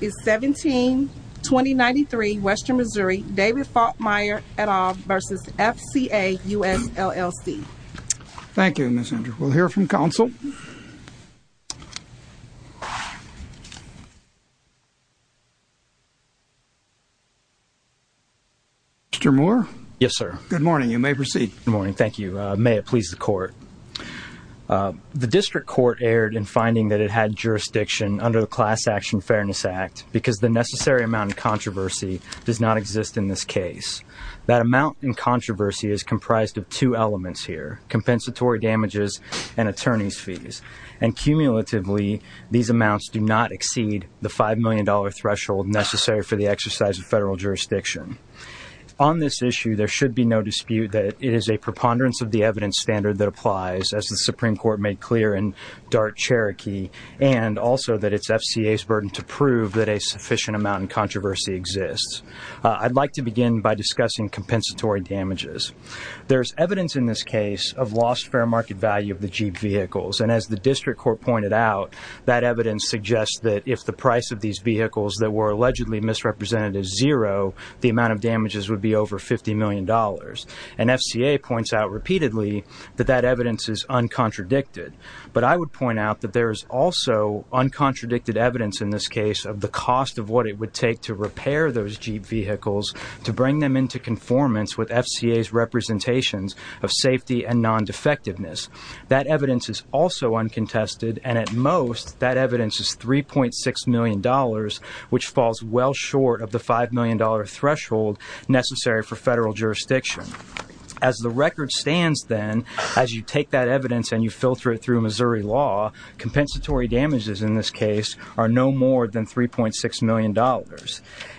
17-2093 Western Missouri David Faltermeier et al. v. FCA US LLC Thank you, Ms. Andrews. We'll hear from counsel. Mr. Moore? Yes, sir. Good morning. You may proceed. The district court erred in finding that it had jurisdiction under the Class Action Fairness Act because the necessary amount in controversy does not exist in this case. That amount in controversy is comprised of two elements here, compensatory damages and attorneys' fees, and cumulatively these amounts do not exceed the $5 million threshold necessary for the exercise of federal jurisdiction. On this issue, there should be no dispute that it is a preponderance of the evidence standard that applies, as the Supreme Court made clear in Dart-Cherokee, and also that it's FCA's burden to prove that a sufficient amount in controversy exists. I'd like to begin by discussing compensatory damages. There's evidence in this case of lost fair market value of the Jeep vehicles, and as the district court pointed out, that evidence suggests that if the price of these vehicles that were allegedly misrepresented is zero, the amount of damages would be over $50 million. And FCA points out repeatedly that that evidence is uncontradicted. But I would point out that there is also uncontradicted evidence in this case of the cost of what it would take to repair those Jeep vehicles to bring them into conformance with FCA's representations of safety and non-defectiveness. That evidence is also uncontested, and at most, that evidence is $3.6 million, which falls well short of the $5 million threshold necessary for federal jurisdiction. As the record stands, then, as you take that evidence and you filter it through Missouri law, compensatory damages in this case are no more than $3.6 million.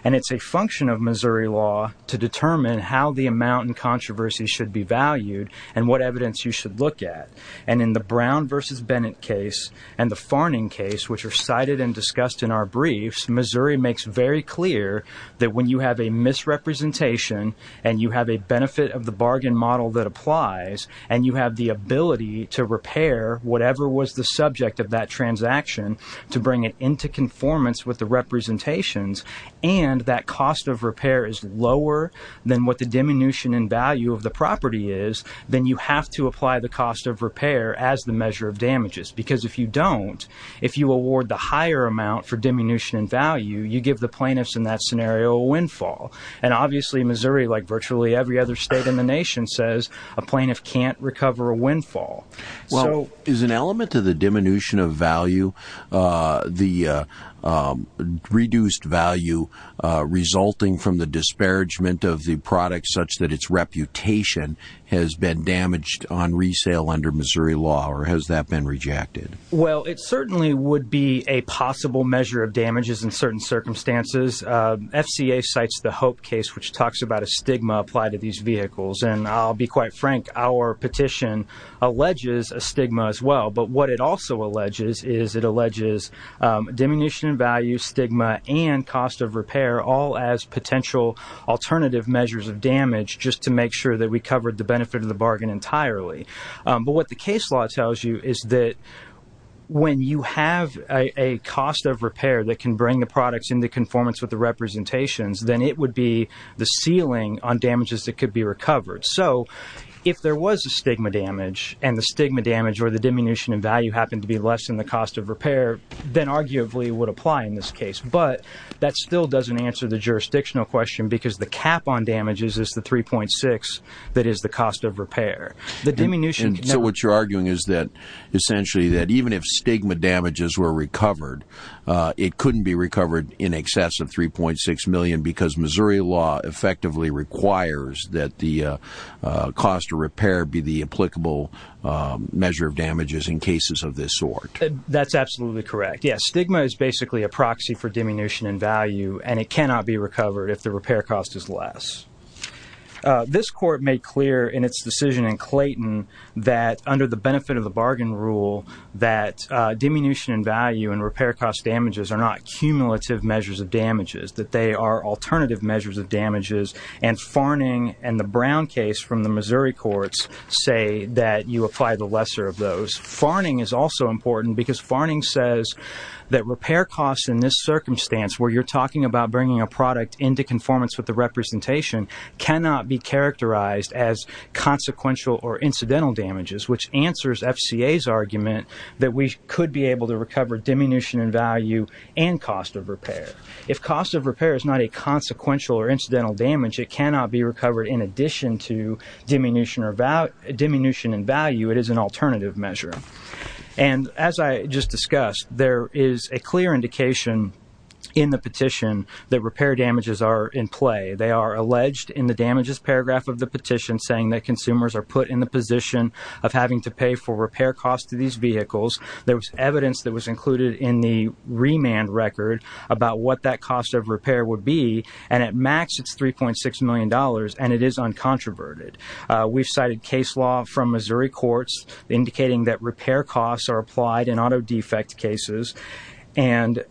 And it's a function of Missouri law to determine how the amount in controversy should be valued and what evidence you should look at. And in the Brown v. Bennett case and the Farning case, which are cited and discussed in our briefs, Missouri makes very clear that when you have a misrepresentation and you have a benefit of the bargain model that applies, and you have the ability to repair whatever was the subject of that transaction to bring it into conformance with the representations, and that cost of repair is lower than what the diminution in value of the property is, then you have to apply the cost of repair as the measure of damages. Because if you don't, if you award the higher amount for diminution in value, you give the plaintiffs in that scenario a windfall. And obviously Missouri, like virtually every other state in the nation, says a plaintiff can't recover a windfall. Well, is an element of the diminution of value, the reduced value, resulting from the disparagement of the product such that its reputation has been damaged on resale under Missouri law, or has that been rejected? Well, it certainly would be a possible measure of damages in certain circumstances. FCA cites the Hope case, which talks about a stigma applied to these vehicles. And I'll be quite frank, our petition alleges a stigma as well. But what it also alleges is it alleges diminution in value, stigma, and cost of repair, all as potential alternative measures of damage just to make sure that we covered the benefit of the bargain entirely. But what the case law tells you is that when you have a cost of repair that can bring the products into conformance with the representations, then it would be the ceiling on damages that could be recovered. So if there was a stigma damage, and the stigma damage or the diminution in value happened to be less than the cost of repair, then arguably it would apply in this case. But that still doesn't answer the jurisdictional question because the cap on damages is the 3.6 that is the cost of repair. So what you're arguing is that essentially that even if stigma damages were recovered, it couldn't be recovered in excess of 3.6 million because Missouri law effectively requires that the cost of repair be the applicable measure of damages in cases of this sort. That's absolutely correct. Yes, stigma is basically a proxy for diminution in value, and it cannot be recovered if the repair cost is less. This court made clear in its decision in Clayton that under the benefit of the bargain rule, that diminution in value and repair cost damages are not cumulative measures of damages, that they are alternative measures of damages. And Farning and the Brown case from the Missouri courts say that you apply the lesser of those. Farning is also important because Farning says that repair costs in this circumstance where you're talking about bringing a product into conformance with the representation cannot be characterized as consequential or incidental damages, which answers FCA's argument that we could be able to recover diminution in value and cost of repair. If cost of repair is not a consequential or incidental damage, it cannot be recovered in addition to diminution in value. It is an alternative measure. And as I just discussed, there is a clear indication in the petition that repair damages are in play. They are alleged in the damages paragraph of the petition saying that consumers are put in the position of having to pay for repair costs to these vehicles. There was evidence that was included in the remand record about what that cost of repair would be, and at max it's $3.6 million, and it is uncontroverted. We've cited case law from Missouri courts indicating that repair costs are applied in auto defect cases, and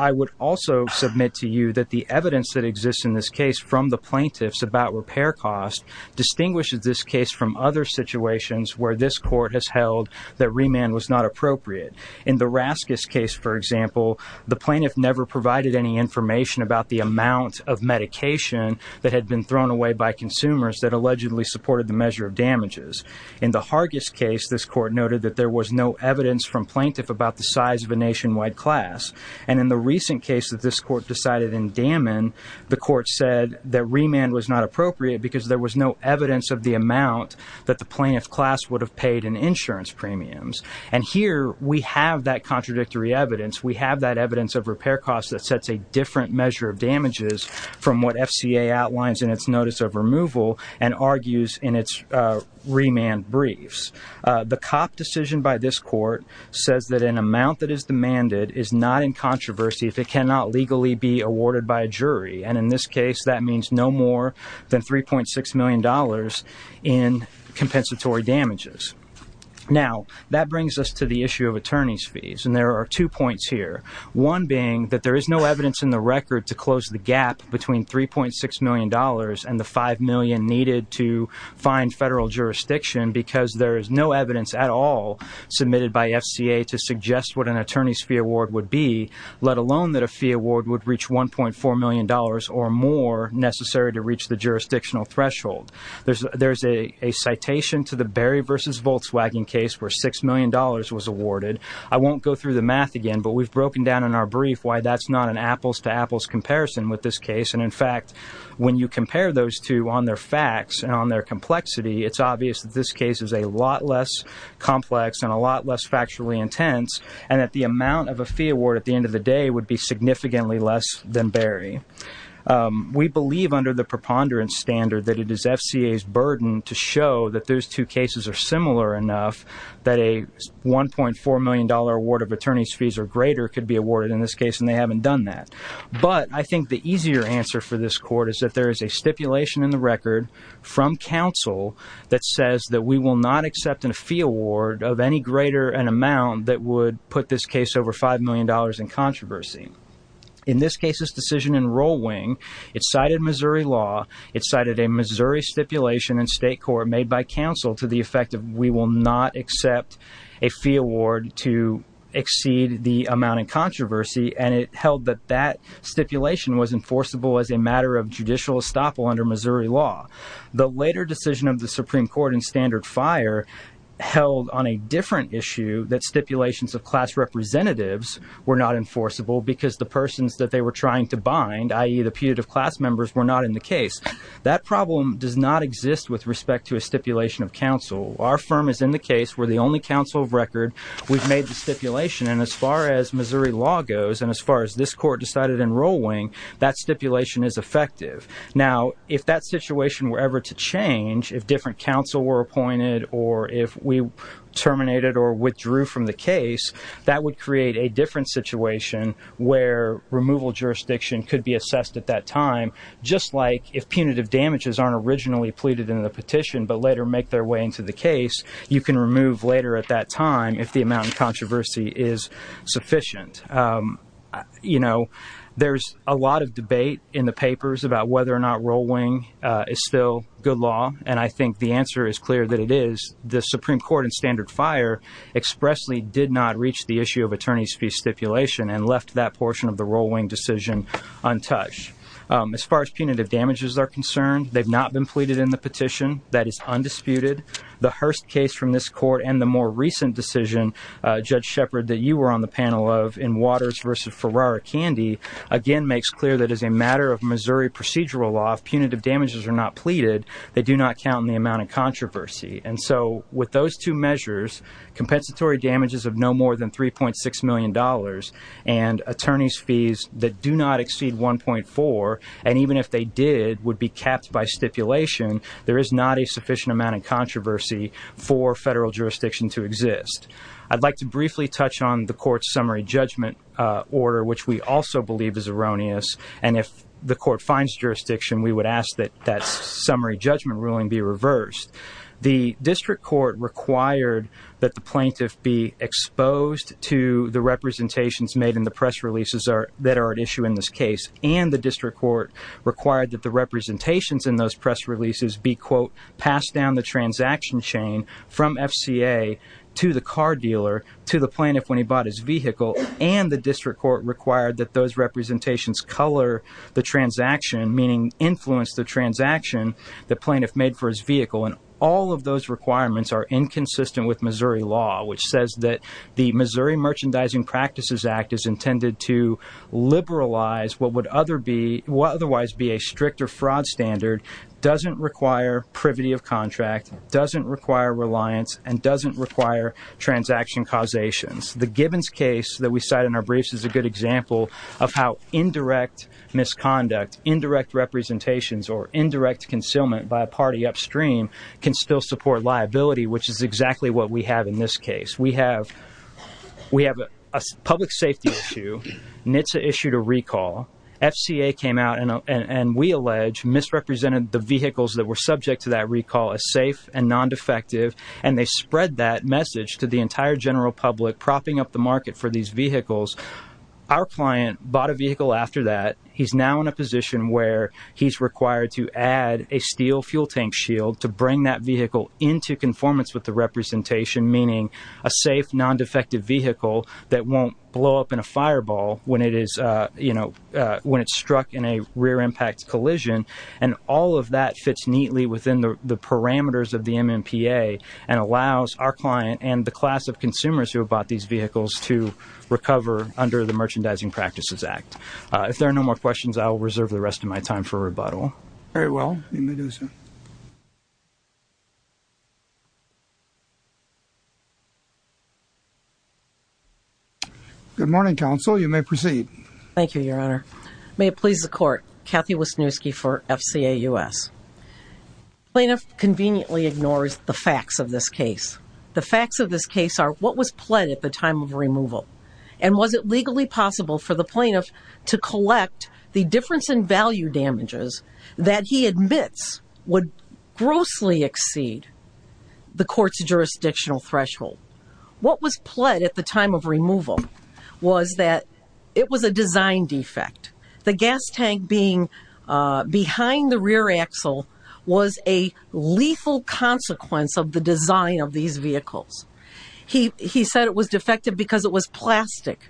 I would also submit to you that the evidence that exists in this case from the plaintiffs about repair costs distinguishes this case from other situations where this court has held that remand was not appropriate. In the Raskis case, for example, the plaintiff never provided any information about the amount of medication that had been thrown away by consumers that allegedly supported the measure of damages. In the Hargis case, this court noted that there was no evidence from plaintiff about the size of a nationwide class, and in the recent case that this court decided in Daman, the court said that remand was not appropriate because there was no evidence of the amount that the plaintiff class would have paid in insurance premiums, and here we have that contradictory evidence. We have that evidence of repair costs that sets a different measure of damages from what FCA outlines in its notice of removal and argues in its remand briefs. The cop decision by this court says that an amount that is demanded is not in controversy if it cannot legally be awarded by a jury, and in this case that means no more than $3.6 million in compensatory damages. Now, that brings us to the issue of attorney's fees, and there are two points here, one being that there is no evidence in the record to close the gap between $3.6 million and the $5 million needed to find federal jurisdiction because there is no evidence at all submitted by FCA to suggest what an attorney's fee award would be, let alone that a fee award would reach $1.4 million or more necessary to reach the jurisdictional threshold. There is a citation to the Barry v. Volkswagen case where $6 million was awarded. I won't go through the math again, but we've broken down in our brief why that's not an apples-to-apples comparison with this case, and in fact when you compare those two on their facts and on their complexity, it's obvious that this case is a lot less complex and a lot less factually intense and that the amount of a fee award at the end of the day would be significantly less than Barry. We believe under the preponderance standard that it is FCA's burden to show that those two cases are similar enough that a $1.4 million award of attorney's fees or greater could be awarded in this case, and they haven't done that. But I think the easier answer for this court is that there is a stipulation in the record from counsel that says that we will not accept a fee award of any greater an amount that would put this case over $5 million in controversy. In this case's decision in Roll Wing, it cited Missouri law, it cited a Missouri stipulation in state court made by counsel to the effect of we will not accept a fee award to exceed the amount in controversy, and it held that that stipulation was enforceable as a matter of judicial estoppel under Missouri law. The later decision of the Supreme Court in Standard Fire held on a different issue that stipulations of class representatives were not enforceable because the persons that they were trying to bind, i.e., the putative class members, were not in the case. That problem does not exist with respect to a stipulation of counsel. Our firm is in the case. We're the only counsel of record. We've made the stipulation, and as far as Missouri law goes and as far as this court decided in Roll Wing, that stipulation is effective. Now, if that situation were ever to change, if different counsel were appointed or if we terminated or withdrew from the case, that would create a different situation where removal jurisdiction could be assessed at that time, just like if punitive damages aren't originally pleaded in the petition but later make their way into the case, you can remove later at that time if the amount in controversy is sufficient. You know, there's a lot of debate in the papers about whether or not Roll Wing is still good law, and I think the answer is clear that it is. The Supreme Court in standard fire expressly did not reach the issue of attorney's fee stipulation and left that portion of the Roll Wing decision untouched. As far as punitive damages are concerned, they've not been pleaded in the petition. That is undisputed. The Hurst case from this court and the more recent decision, Judge Shepard, that you were on the panel of in Waters v. Ferrara Candy, again, makes clear that as a matter of Missouri procedural law, if punitive damages are not pleaded, they do not count in the amount of controversy. And so with those two measures, compensatory damages of no more than $3.6 million and attorney's fees that do not exceed $1.4 million, and even if they did, would be capped by stipulation, there is not a sufficient amount of controversy for federal jurisdiction to exist. I'd like to briefly touch on the court's summary judgment order, which we also believe is erroneous, and if the court finds jurisdiction, we would ask that that summary judgment ruling be reversed. The district court required that the plaintiff be exposed to the representations made in the press releases that are at issue in this case, and the district court required that the representations in those press releases be, quote, passed down the transaction chain from FCA to the car dealer to the plaintiff when he bought his vehicle, and the district court required that those representations color the transaction, meaning influence the transaction the plaintiff made for his vehicle, and all of those requirements are inconsistent with Missouri law, which says that the Missouri Merchandising Practices Act is intended to liberalize what would otherwise be a stricter fraud standard, doesn't require privity of contract, doesn't require reliance, and doesn't require transaction causations. The Gibbons case that we cite in our briefs is a good example of how indirect misconduct, indirect representations, or indirect concealment by a party upstream can still support liability, which is exactly what we have in this case. We have a public safety issue. NHTSA issued a recall. FCA came out and, we allege, misrepresented the vehicles that were subject to that recall as safe and non-defective, and they spread that message to the entire general public, propping up the market for these vehicles. Our client bought a vehicle after that. He's now in a position where he's required to add a steel fuel tank shield to bring that vehicle into conformance with the representation, meaning a safe, non-defective vehicle that won't blow up in a fireball when it's struck in a rear impact collision, and all of that fits neatly within the parameters of the MMPA and allows our client and the class of consumers who have bought these vehicles to recover under the Merchandising Practices Act. If there are no more questions, I will reserve the rest of my time for rebuttal. Very well. You may do so. Good morning, Counsel. You may proceed. Thank you, Your Honor. May it please the Court. Kathy Wisniewski for FCA U.S. Plaintiff conveniently ignores the facts of this case. The facts of this case are what was pled at the time of removal, and was it legally possible for the plaintiff to collect the difference in value damages that he admits would grossly exceed the court's jurisdictional threshold? What was pled at the time of removal was that it was a design defect. The gas tank being behind the rear axle was a lethal consequence of the design of these vehicles. He said it was defective because it was plastic.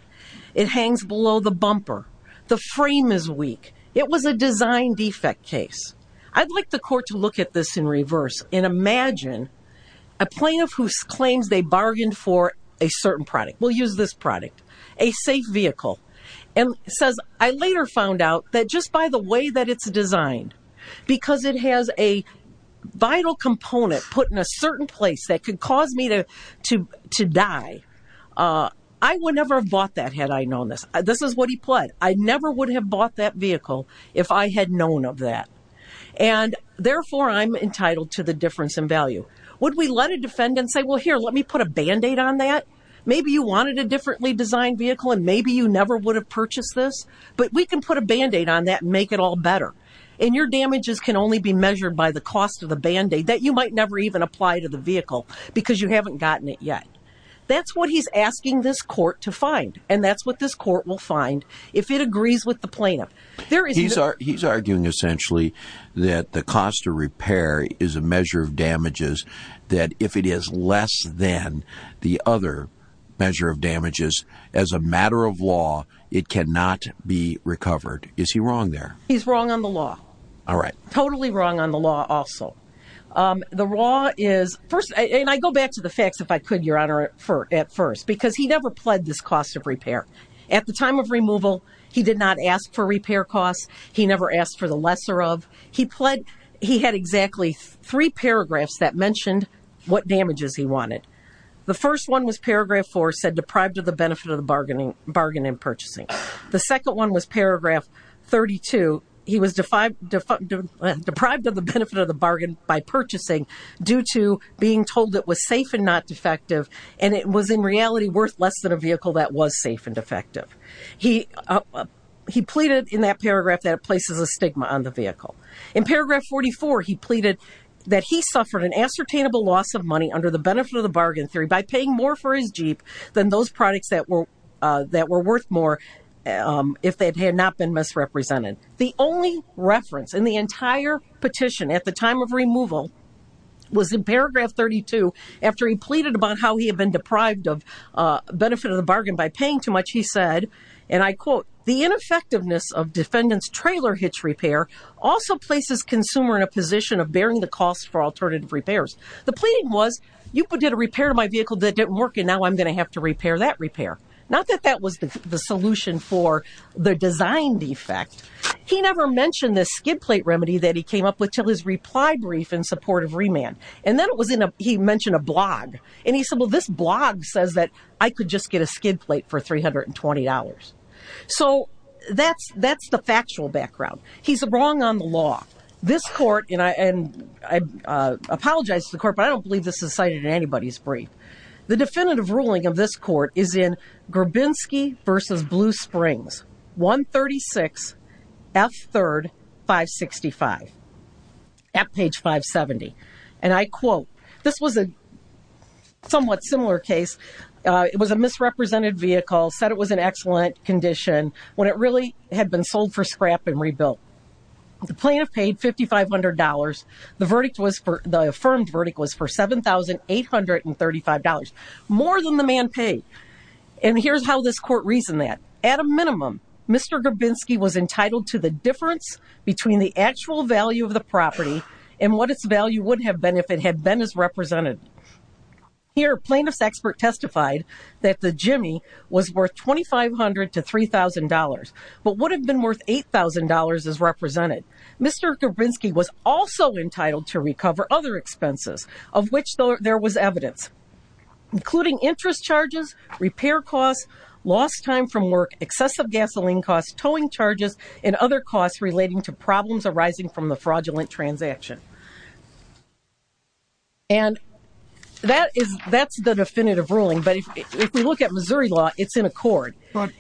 It hangs below the bumper. The frame is weak. It was a design defect case. I'd like the Court to look at this in reverse and imagine a plaintiff who claims they bargained for a certain product. We'll use this product. A safe vehicle. And says, I later found out that just by the way that it's designed, because it has a vital component put in a certain place that could cause me to die, I would never have bought that had I known this. This is what he pled. I never would have bought that vehicle if I had known of that. And, therefore, I'm entitled to the difference in value. Would we let a defendant say, well, here, let me put a Band-Aid on that? Maybe you wanted a differently designed vehicle and maybe you never would have purchased this, but we can put a Band-Aid on that and make it all better. And your damages can only be measured by the cost of the Band-Aid that you might never even apply to the vehicle because you haven't gotten it yet. That's what he's asking this Court to find. And that's what this Court will find if it agrees with the plaintiff. He's arguing, essentially, that the cost of repair is a measure of damages, that if it is less than the other measure of damages, as a matter of law, it cannot be recovered. Is he wrong there? He's wrong on the law. All right. Totally wrong on the law also. The law is, first, and I go back to the facts, if I could, Your Honor, at first, because he never pled this cost of repair. At the time of removal, he did not ask for repair costs. He never asked for the lesser of. He pled, he had exactly three paragraphs that mentioned what damages he wanted. The first one was paragraph four, said deprived of the benefit of the bargain in purchasing. The second one was paragraph 32. He was deprived of the benefit of the bargain by purchasing due to being told it was safe and not defective, and it was, in reality, worth less than a vehicle that was safe and defective. He pleaded in that paragraph that it places a stigma on the vehicle. In paragraph 44, he pleaded that he suffered an ascertainable loss of money under the benefit of the bargain theory by paying more for his Jeep than those products that were worth more if they had not been misrepresented. The only reference in the entire petition at the time of removal was in paragraph 32 after he pleaded about how he had been deprived of benefit of the bargain by paying too much. He said, and I quote, the ineffectiveness of defendant's trailer hitch repair also places consumer in a position of bearing the cost for alternative repairs. The pleading was, you did a repair to my vehicle that didn't work, and now I'm going to have to repair that repair. Not that that was the solution for the design defect. He never mentioned the skid plate remedy that he came up with until his reply brief in support of remand. And then he mentioned a blog, and he said, well, this blog says that I could just get a skid plate for $320. So that's the factual background. He's wrong on the law. This court, and I apologize to the court, but I don't believe this is cited in anybody's brief. The definitive ruling of this court is in Grabinski versus Blue Springs. 136 F third 565 at page 570. And I quote, this was a somewhat similar case. It was a misrepresented vehicle, said it was an excellent condition when it really had been sold for scrap and rebuilt. The plaintiff paid $5,500. The verdict was for, the affirmed verdict was for $7,835, more than the man paid. And here's how this court reasoned that. At a minimum, Mr. Grabinski was entitled to the difference between the actual value of the property and what its value would have been if it had been as represented. Here, plaintiff's expert testified that the Jimmy was worth $2,500 to $3,000, but would have been worth $8,000 as represented. Mr. Grabinski was also entitled to recover other expenses, of which there was evidence, including interest charges, repair costs, lost time from work, excessive gasoline costs, towing charges, and other costs relating to problems arising from the fraudulent transaction. And that is, that's the definitive ruling. But if we look at Missouri law, it's in accord. But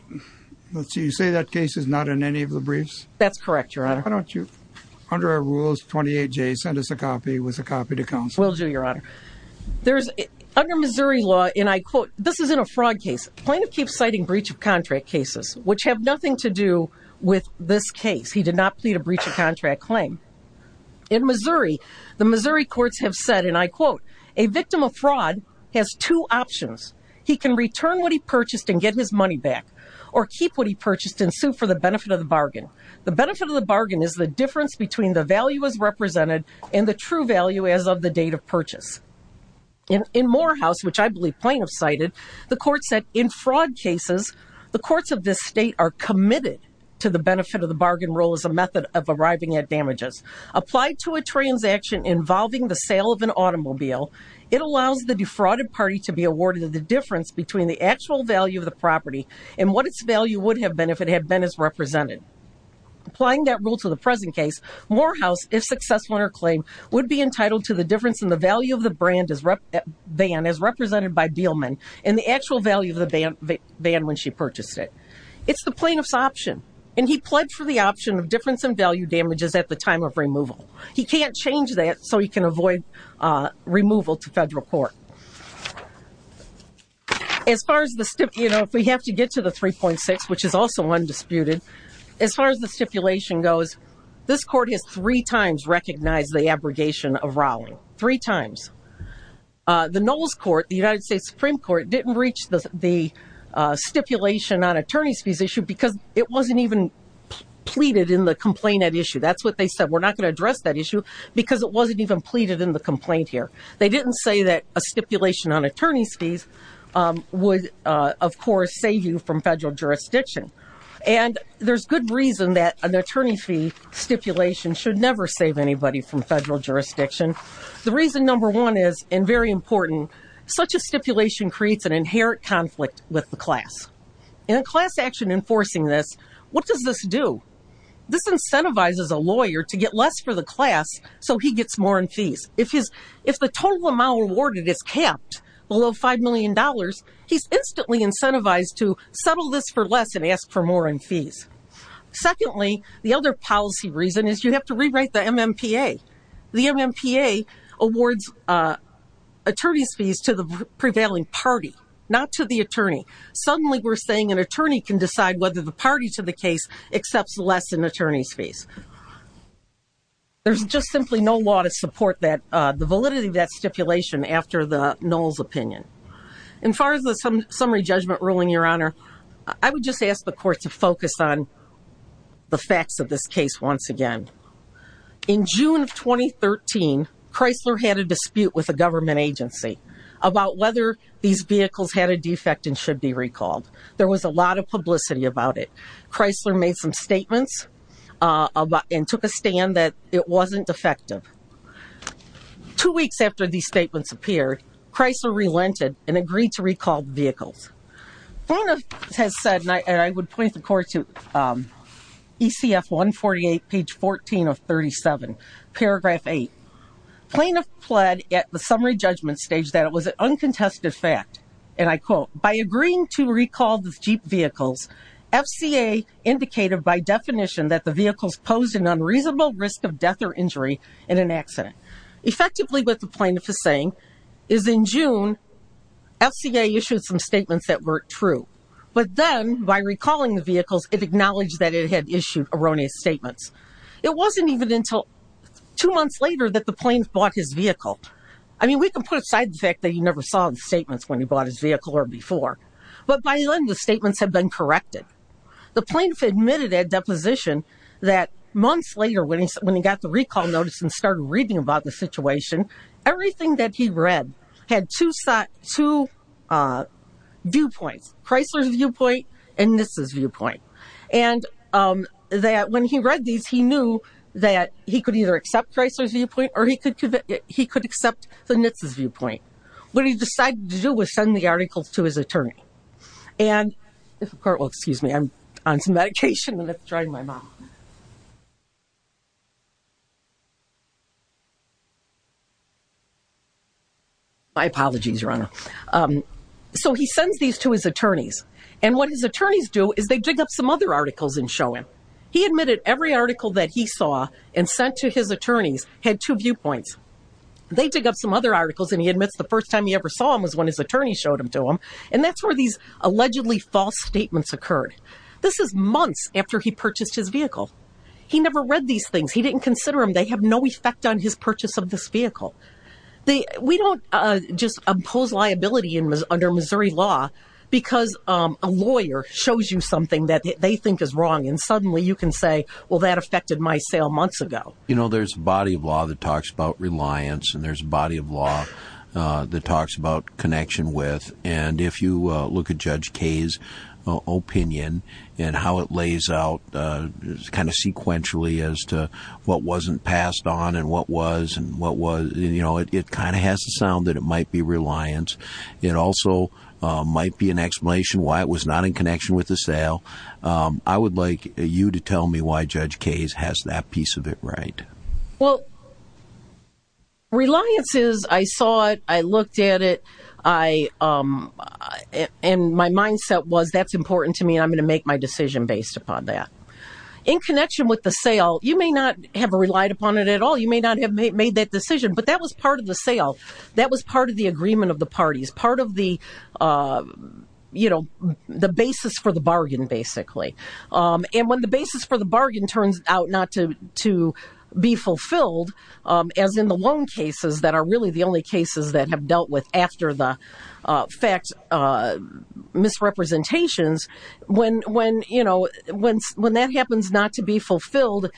you say that case is not in any of the briefs? That's correct, Your Honor. Why don't you, under our rules, 28J, send us a copy with a copy to counsel? Will do, Your Honor. There's, under Missouri law, and I quote, this isn't a fraud case. Plaintiff keeps citing breach of contract cases, which have nothing to do with this case. He did not plead a breach of contract claim. In Missouri, the Missouri courts have said, and I quote, a victim of fraud has two options. He can return what he purchased and get his money back, or keep what he purchased and sue for the benefit of the bargain. The benefit of the bargain is the difference between the value as represented and the true value as of the date of purchase. In Morehouse, which I believe plaintiffs cited, the court said, in fraud cases, the courts of this state are committed to the benefit of the bargain rule as a method of arriving at damages. Applied to a transaction involving the sale of an automobile, it allows the defrauded party to be awarded the difference between the actual value of the property and what its value would have been if it had been as represented. Applying that rule to the present case, Morehouse, if successful in her claim, would be entitled to the difference in the value of the brand as represented by Beelman and the actual value of the band when she purchased it. It's the plaintiff's option, and he pledged for the option of difference in value damages at the time of removal. He can't change that so he can avoid removal to federal court. As far as the stipulation, you know, if we have to get to the 3.6, which is also undisputed, as far as the stipulation goes, this court has three times recognized the abrogation of Rowling. Three times. The Knowles Court, the United States Supreme Court, didn't reach the stipulation on attorney's fees issue because it wasn't even pleaded in the complaint at issue. That's what they said, we're not going to address that issue because it wasn't even pleaded in the complaint here. They didn't say that a stipulation on attorney's fees would, of course, save you from federal jurisdiction. And there's good reason that an attorney fee stipulation should never save anybody from federal jurisdiction. The reason number one is, and very important, such a stipulation creates an inherent conflict with the class. In a class action enforcing this, what does this do? This incentivizes a lawyer to get less for the class so he gets more in fees. If the total amount awarded is capped below $5 million, he's instantly incentivized to settle this for less and ask for more in fees. Secondly, the other policy reason is you have to rewrite the MMPA. The MMPA awards attorney's fees to the prevailing party, not to the attorney. Suddenly we're saying an attorney can decide whether the party to the case accepts less in attorney's fees. There's just simply no law to support the validity of that stipulation after the Knowles opinion. And as far as the summary judgment ruling, Your Honor, I would just ask the court to focus on the facts of this case once again. In June of 2013, Chrysler had a dispute with a government agency about whether these vehicles had a defect and should be recalled. There was a lot of publicity about it. Chrysler made some statements and took a stand that it wasn't defective. Two weeks after these statements appeared, Chrysler relented and agreed to recall the vehicles. Plaintiff has said, and I would point the court to ECF 148, page 14 of 37, paragraph 8. Plaintiff pled at the summary judgment stage that it was an uncontested fact, and I quote, By agreeing to recall the Jeep vehicles, FCA indicated by definition that the vehicles posed an unreasonable risk of death or injury in an accident. Effectively, what the plaintiff is saying is in June, FCA issued some statements that weren't true. But then by recalling the vehicles, it acknowledged that it had issued erroneous statements. It wasn't even until two months later that the plaintiff bought his vehicle. I mean, we can put aside the fact that he never saw the statements when he bought his vehicle or before. But by then, the statements had been corrected. The plaintiff admitted at deposition that months later when he got the recall notice and started reading about the situation, everything that he read had two viewpoints, Chrysler's viewpoint and Nissa's viewpoint. And that when he read these, he knew that he could either accept Chrysler's viewpoint or he could accept the Nissa's viewpoint. What he decided to do was send the articles to his attorney. And if the court will excuse me, I'm on some medication and it's drying my mouth. My apologies, Your Honor. So he sends these to his attorneys. And what his attorneys do is they dig up some other articles and show him. He admitted every article that he saw and sent to his attorneys had two viewpoints. They dig up some other articles and he admits the first time he ever saw them was when his attorney showed them to him. And that's where these allegedly false statements occurred. This is months after he purchased his vehicle. He never read these things. He didn't consider them. They have no effect on his purchase of this vehicle. We don't just impose liability under Missouri law because a lawyer shows you something that they think is wrong. And suddenly you can say, well, that affected my sale months ago. You know, there's a body of law that talks about reliance. And there's a body of law that talks about connection with. And if you look at Judge Kaye's opinion and how it lays out kind of sequentially as to what wasn't passed on and what was, and what was, you know, it kind of has to sound that it might be reliance. It also might be an explanation why it was not in connection with the sale. I would like you to tell me why Judge Kaye's has that piece of it right. Well, reliance is I saw it, I looked at it. And my mindset was that's important to me and I'm going to make my decision based upon that. In connection with the sale, you may not have relied upon it at all. You may not have made that decision, but that was part of the sale. That was part of the agreement of the parties, part of the, you know, the basis for the bargain basically. And when the basis for the bargain turns out not to be fulfilled, as in the loan cases that are really the only cases that have dealt with after the fact misrepresentations, when, you know, when that happens not to be fulfilled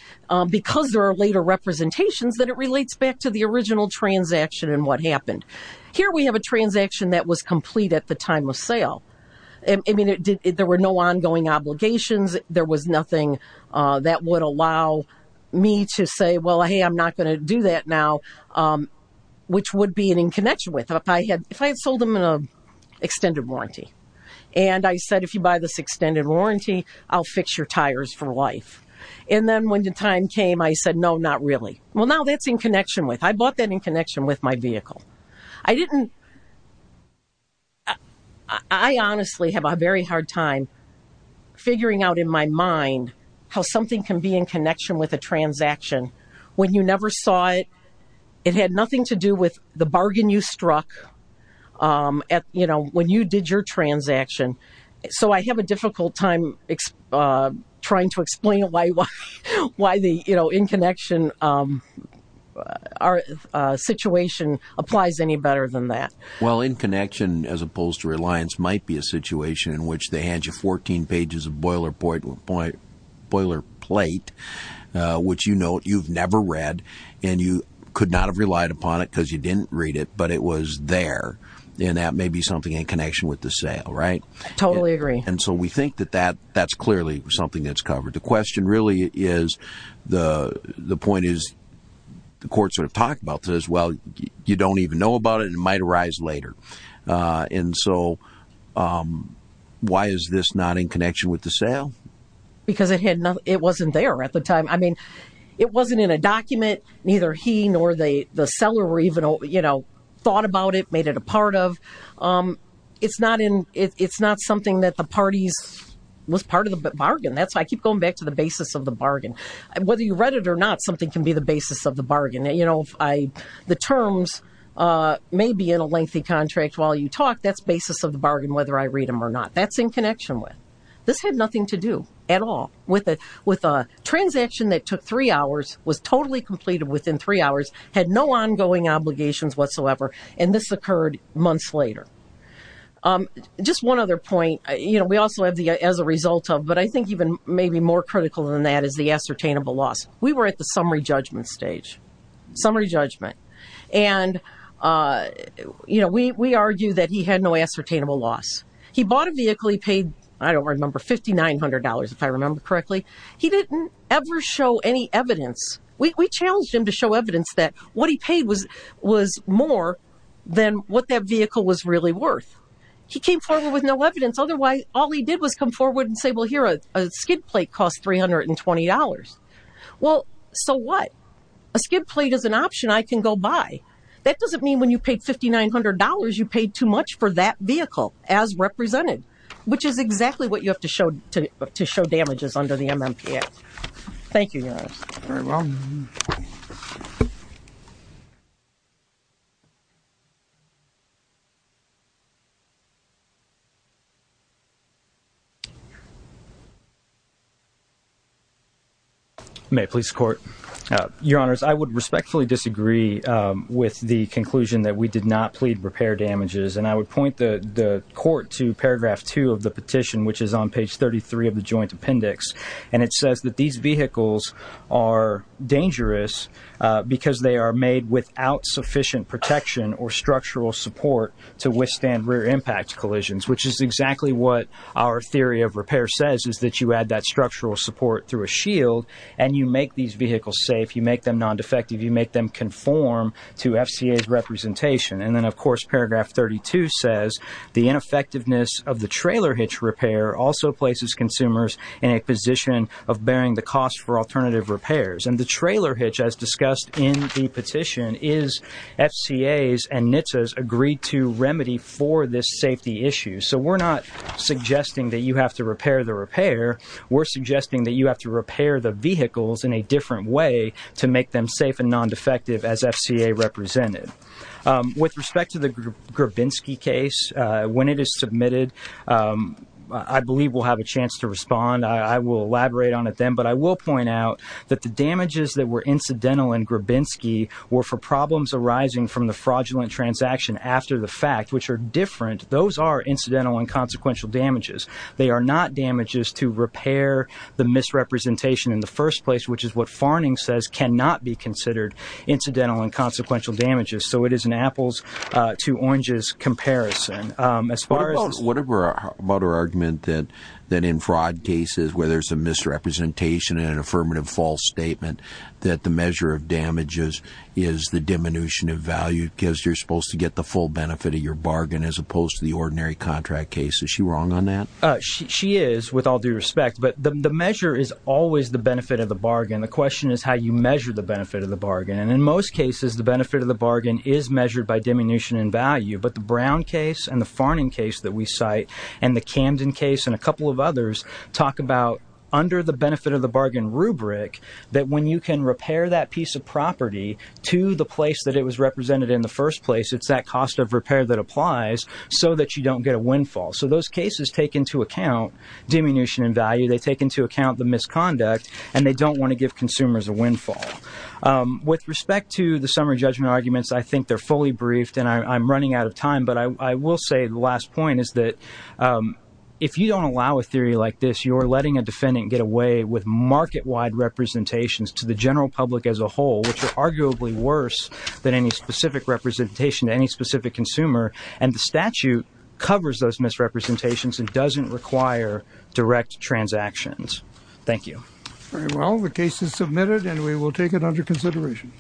because there are later representations, then it relates back to the original transaction and what happened. Here we have a transaction that was complete at the time of sale. I mean, there were no ongoing obligations. There was nothing that would allow me to say, well, hey, I'm not going to do that now, which would be in connection with it. If I had sold them an extended warranty and I said, if you buy this extended warranty, I'll fix your tires for life. And then when the time came, I said, no, not really. Well, now that's in connection with, I bought that in connection with my vehicle. I didn't, I honestly have a very hard time figuring out in my mind how something can be in connection with a transaction when you never saw it. It had nothing to do with the bargain you struck at, you know, when you did your transaction. So I have a difficult time trying to explain why the, you know, in connection situation applies any better than that. Well, in connection, as opposed to reliance, might be a situation in which they hand you 14 pages of boilerplate, which, you know, you've never read and you could not have relied upon it because you didn't read it, but it was there. And that may be something in connection with the sale. Right. Totally agree. And so we think that that that's clearly something that's covered. The question really is the the point is the courts are talking about this. Well, you don't even know about it. It might arise later. And so why is this not in connection with the sale? Because it had nothing. It wasn't there at the time. I mean, it wasn't in a document. Neither he nor the seller even, you know, thought about it, made it a part of. It's not in. It's not something that the parties was part of the bargain. That's why I keep going back to the basis of the bargain. Whether you read it or not, something can be the basis of the bargain. You know, the terms may be in a lengthy contract while you talk. That's basis of the bargain, whether I read them or not. That's in connection with. This had nothing to do at all with it, with a transaction that took three hours, was totally completed within three hours, had no ongoing obligations whatsoever. And this occurred months later. Just one other point. You know, we also have the as a result of. But I think even maybe more critical than that is the ascertainable loss. We were at the summary judgment stage, summary judgment. And, you know, we argue that he had no ascertainable loss. He bought a vehicle. He paid. I don't remember. Fifty nine hundred dollars, if I remember correctly. He didn't ever show any evidence. We challenged him to show evidence that what he paid was was more than what that vehicle was really worth. He came forward with no evidence. Otherwise, all he did was come forward and say, well, here, a skid plate cost three hundred and twenty dollars. Well, so what a skid plate is an option I can go by. That doesn't mean when you paid fifty nine hundred dollars, you paid too much for that vehicle as represented, which is exactly what you have to show to show damages under the MMP. Thank you. Very well. May police court your honors. I would respectfully disagree with the conclusion that we did not plead repair damages. And I would point the court to paragraph two of the petition, which is on page thirty three of the joint appendix. And it says that these vehicles are dangerous because they are made without sufficient protection or structural support to withstand rear impact collisions, which is exactly what our theory of repair says, is that you add that structural support through a shield and you make these vehicles safe. You make them non-defective. You make them conform to FCA's representation. And then, of course, paragraph thirty two says the ineffectiveness of the trailer hitch repair also places consumers in a position of bearing the cost for alternative repairs. And the trailer hitch, as discussed in the petition, is FCA's and NHTSA's agreed to remedy for this safety issue. So we're not suggesting that you have to repair the repair. We're suggesting that you have to repair the vehicles in a different way to make them safe and non-defective as FCA represented. With respect to the Grabinski case, when it is submitted, I believe we'll have a chance to respond. I will elaborate on it then. But I will point out that the damages that were incidental in Grabinski were for problems arising from the fraudulent transaction after the fact, which are different. Those are incidental and consequential damages. They are not damages to repair the misrepresentation in the first place, which is what Farning says cannot be considered incidental and consequential damages. So it is an apples to oranges comparison. What about her argument that in fraud cases where there's a misrepresentation and an affirmative false statement, that the measure of damages is the diminution of value because you're supposed to get the full benefit of your bargain as opposed to the ordinary contract case? Is she wrong on that? She is, with all due respect. But the measure is always the benefit of the bargain. The question is how you measure the benefit of the bargain. And in most cases, the benefit of the bargain is measured by diminution in value. But the Brown case and the Farning case that we cite and the Camden case and a couple of others talk about under the benefit of the bargain rubric that when you can repair that piece of property to the place that it was represented in the first place, it's that cost of repair that applies so that you don't get a windfall. So those cases take into account diminution in value. They take into account the misconduct. And they don't want to give consumers a windfall. With respect to the summary judgment arguments, I think they're fully briefed. And I'm running out of time. But I will say the last point is that if you don't allow a theory like this, you're letting a defendant get away with market-wide representations to the general public as a whole, which are arguably worse than any specific representation to any specific consumer. And the statute covers those misrepresentations and doesn't require direct transactions. Thank you. Very well. The case is submitted, and we will take it under consideration.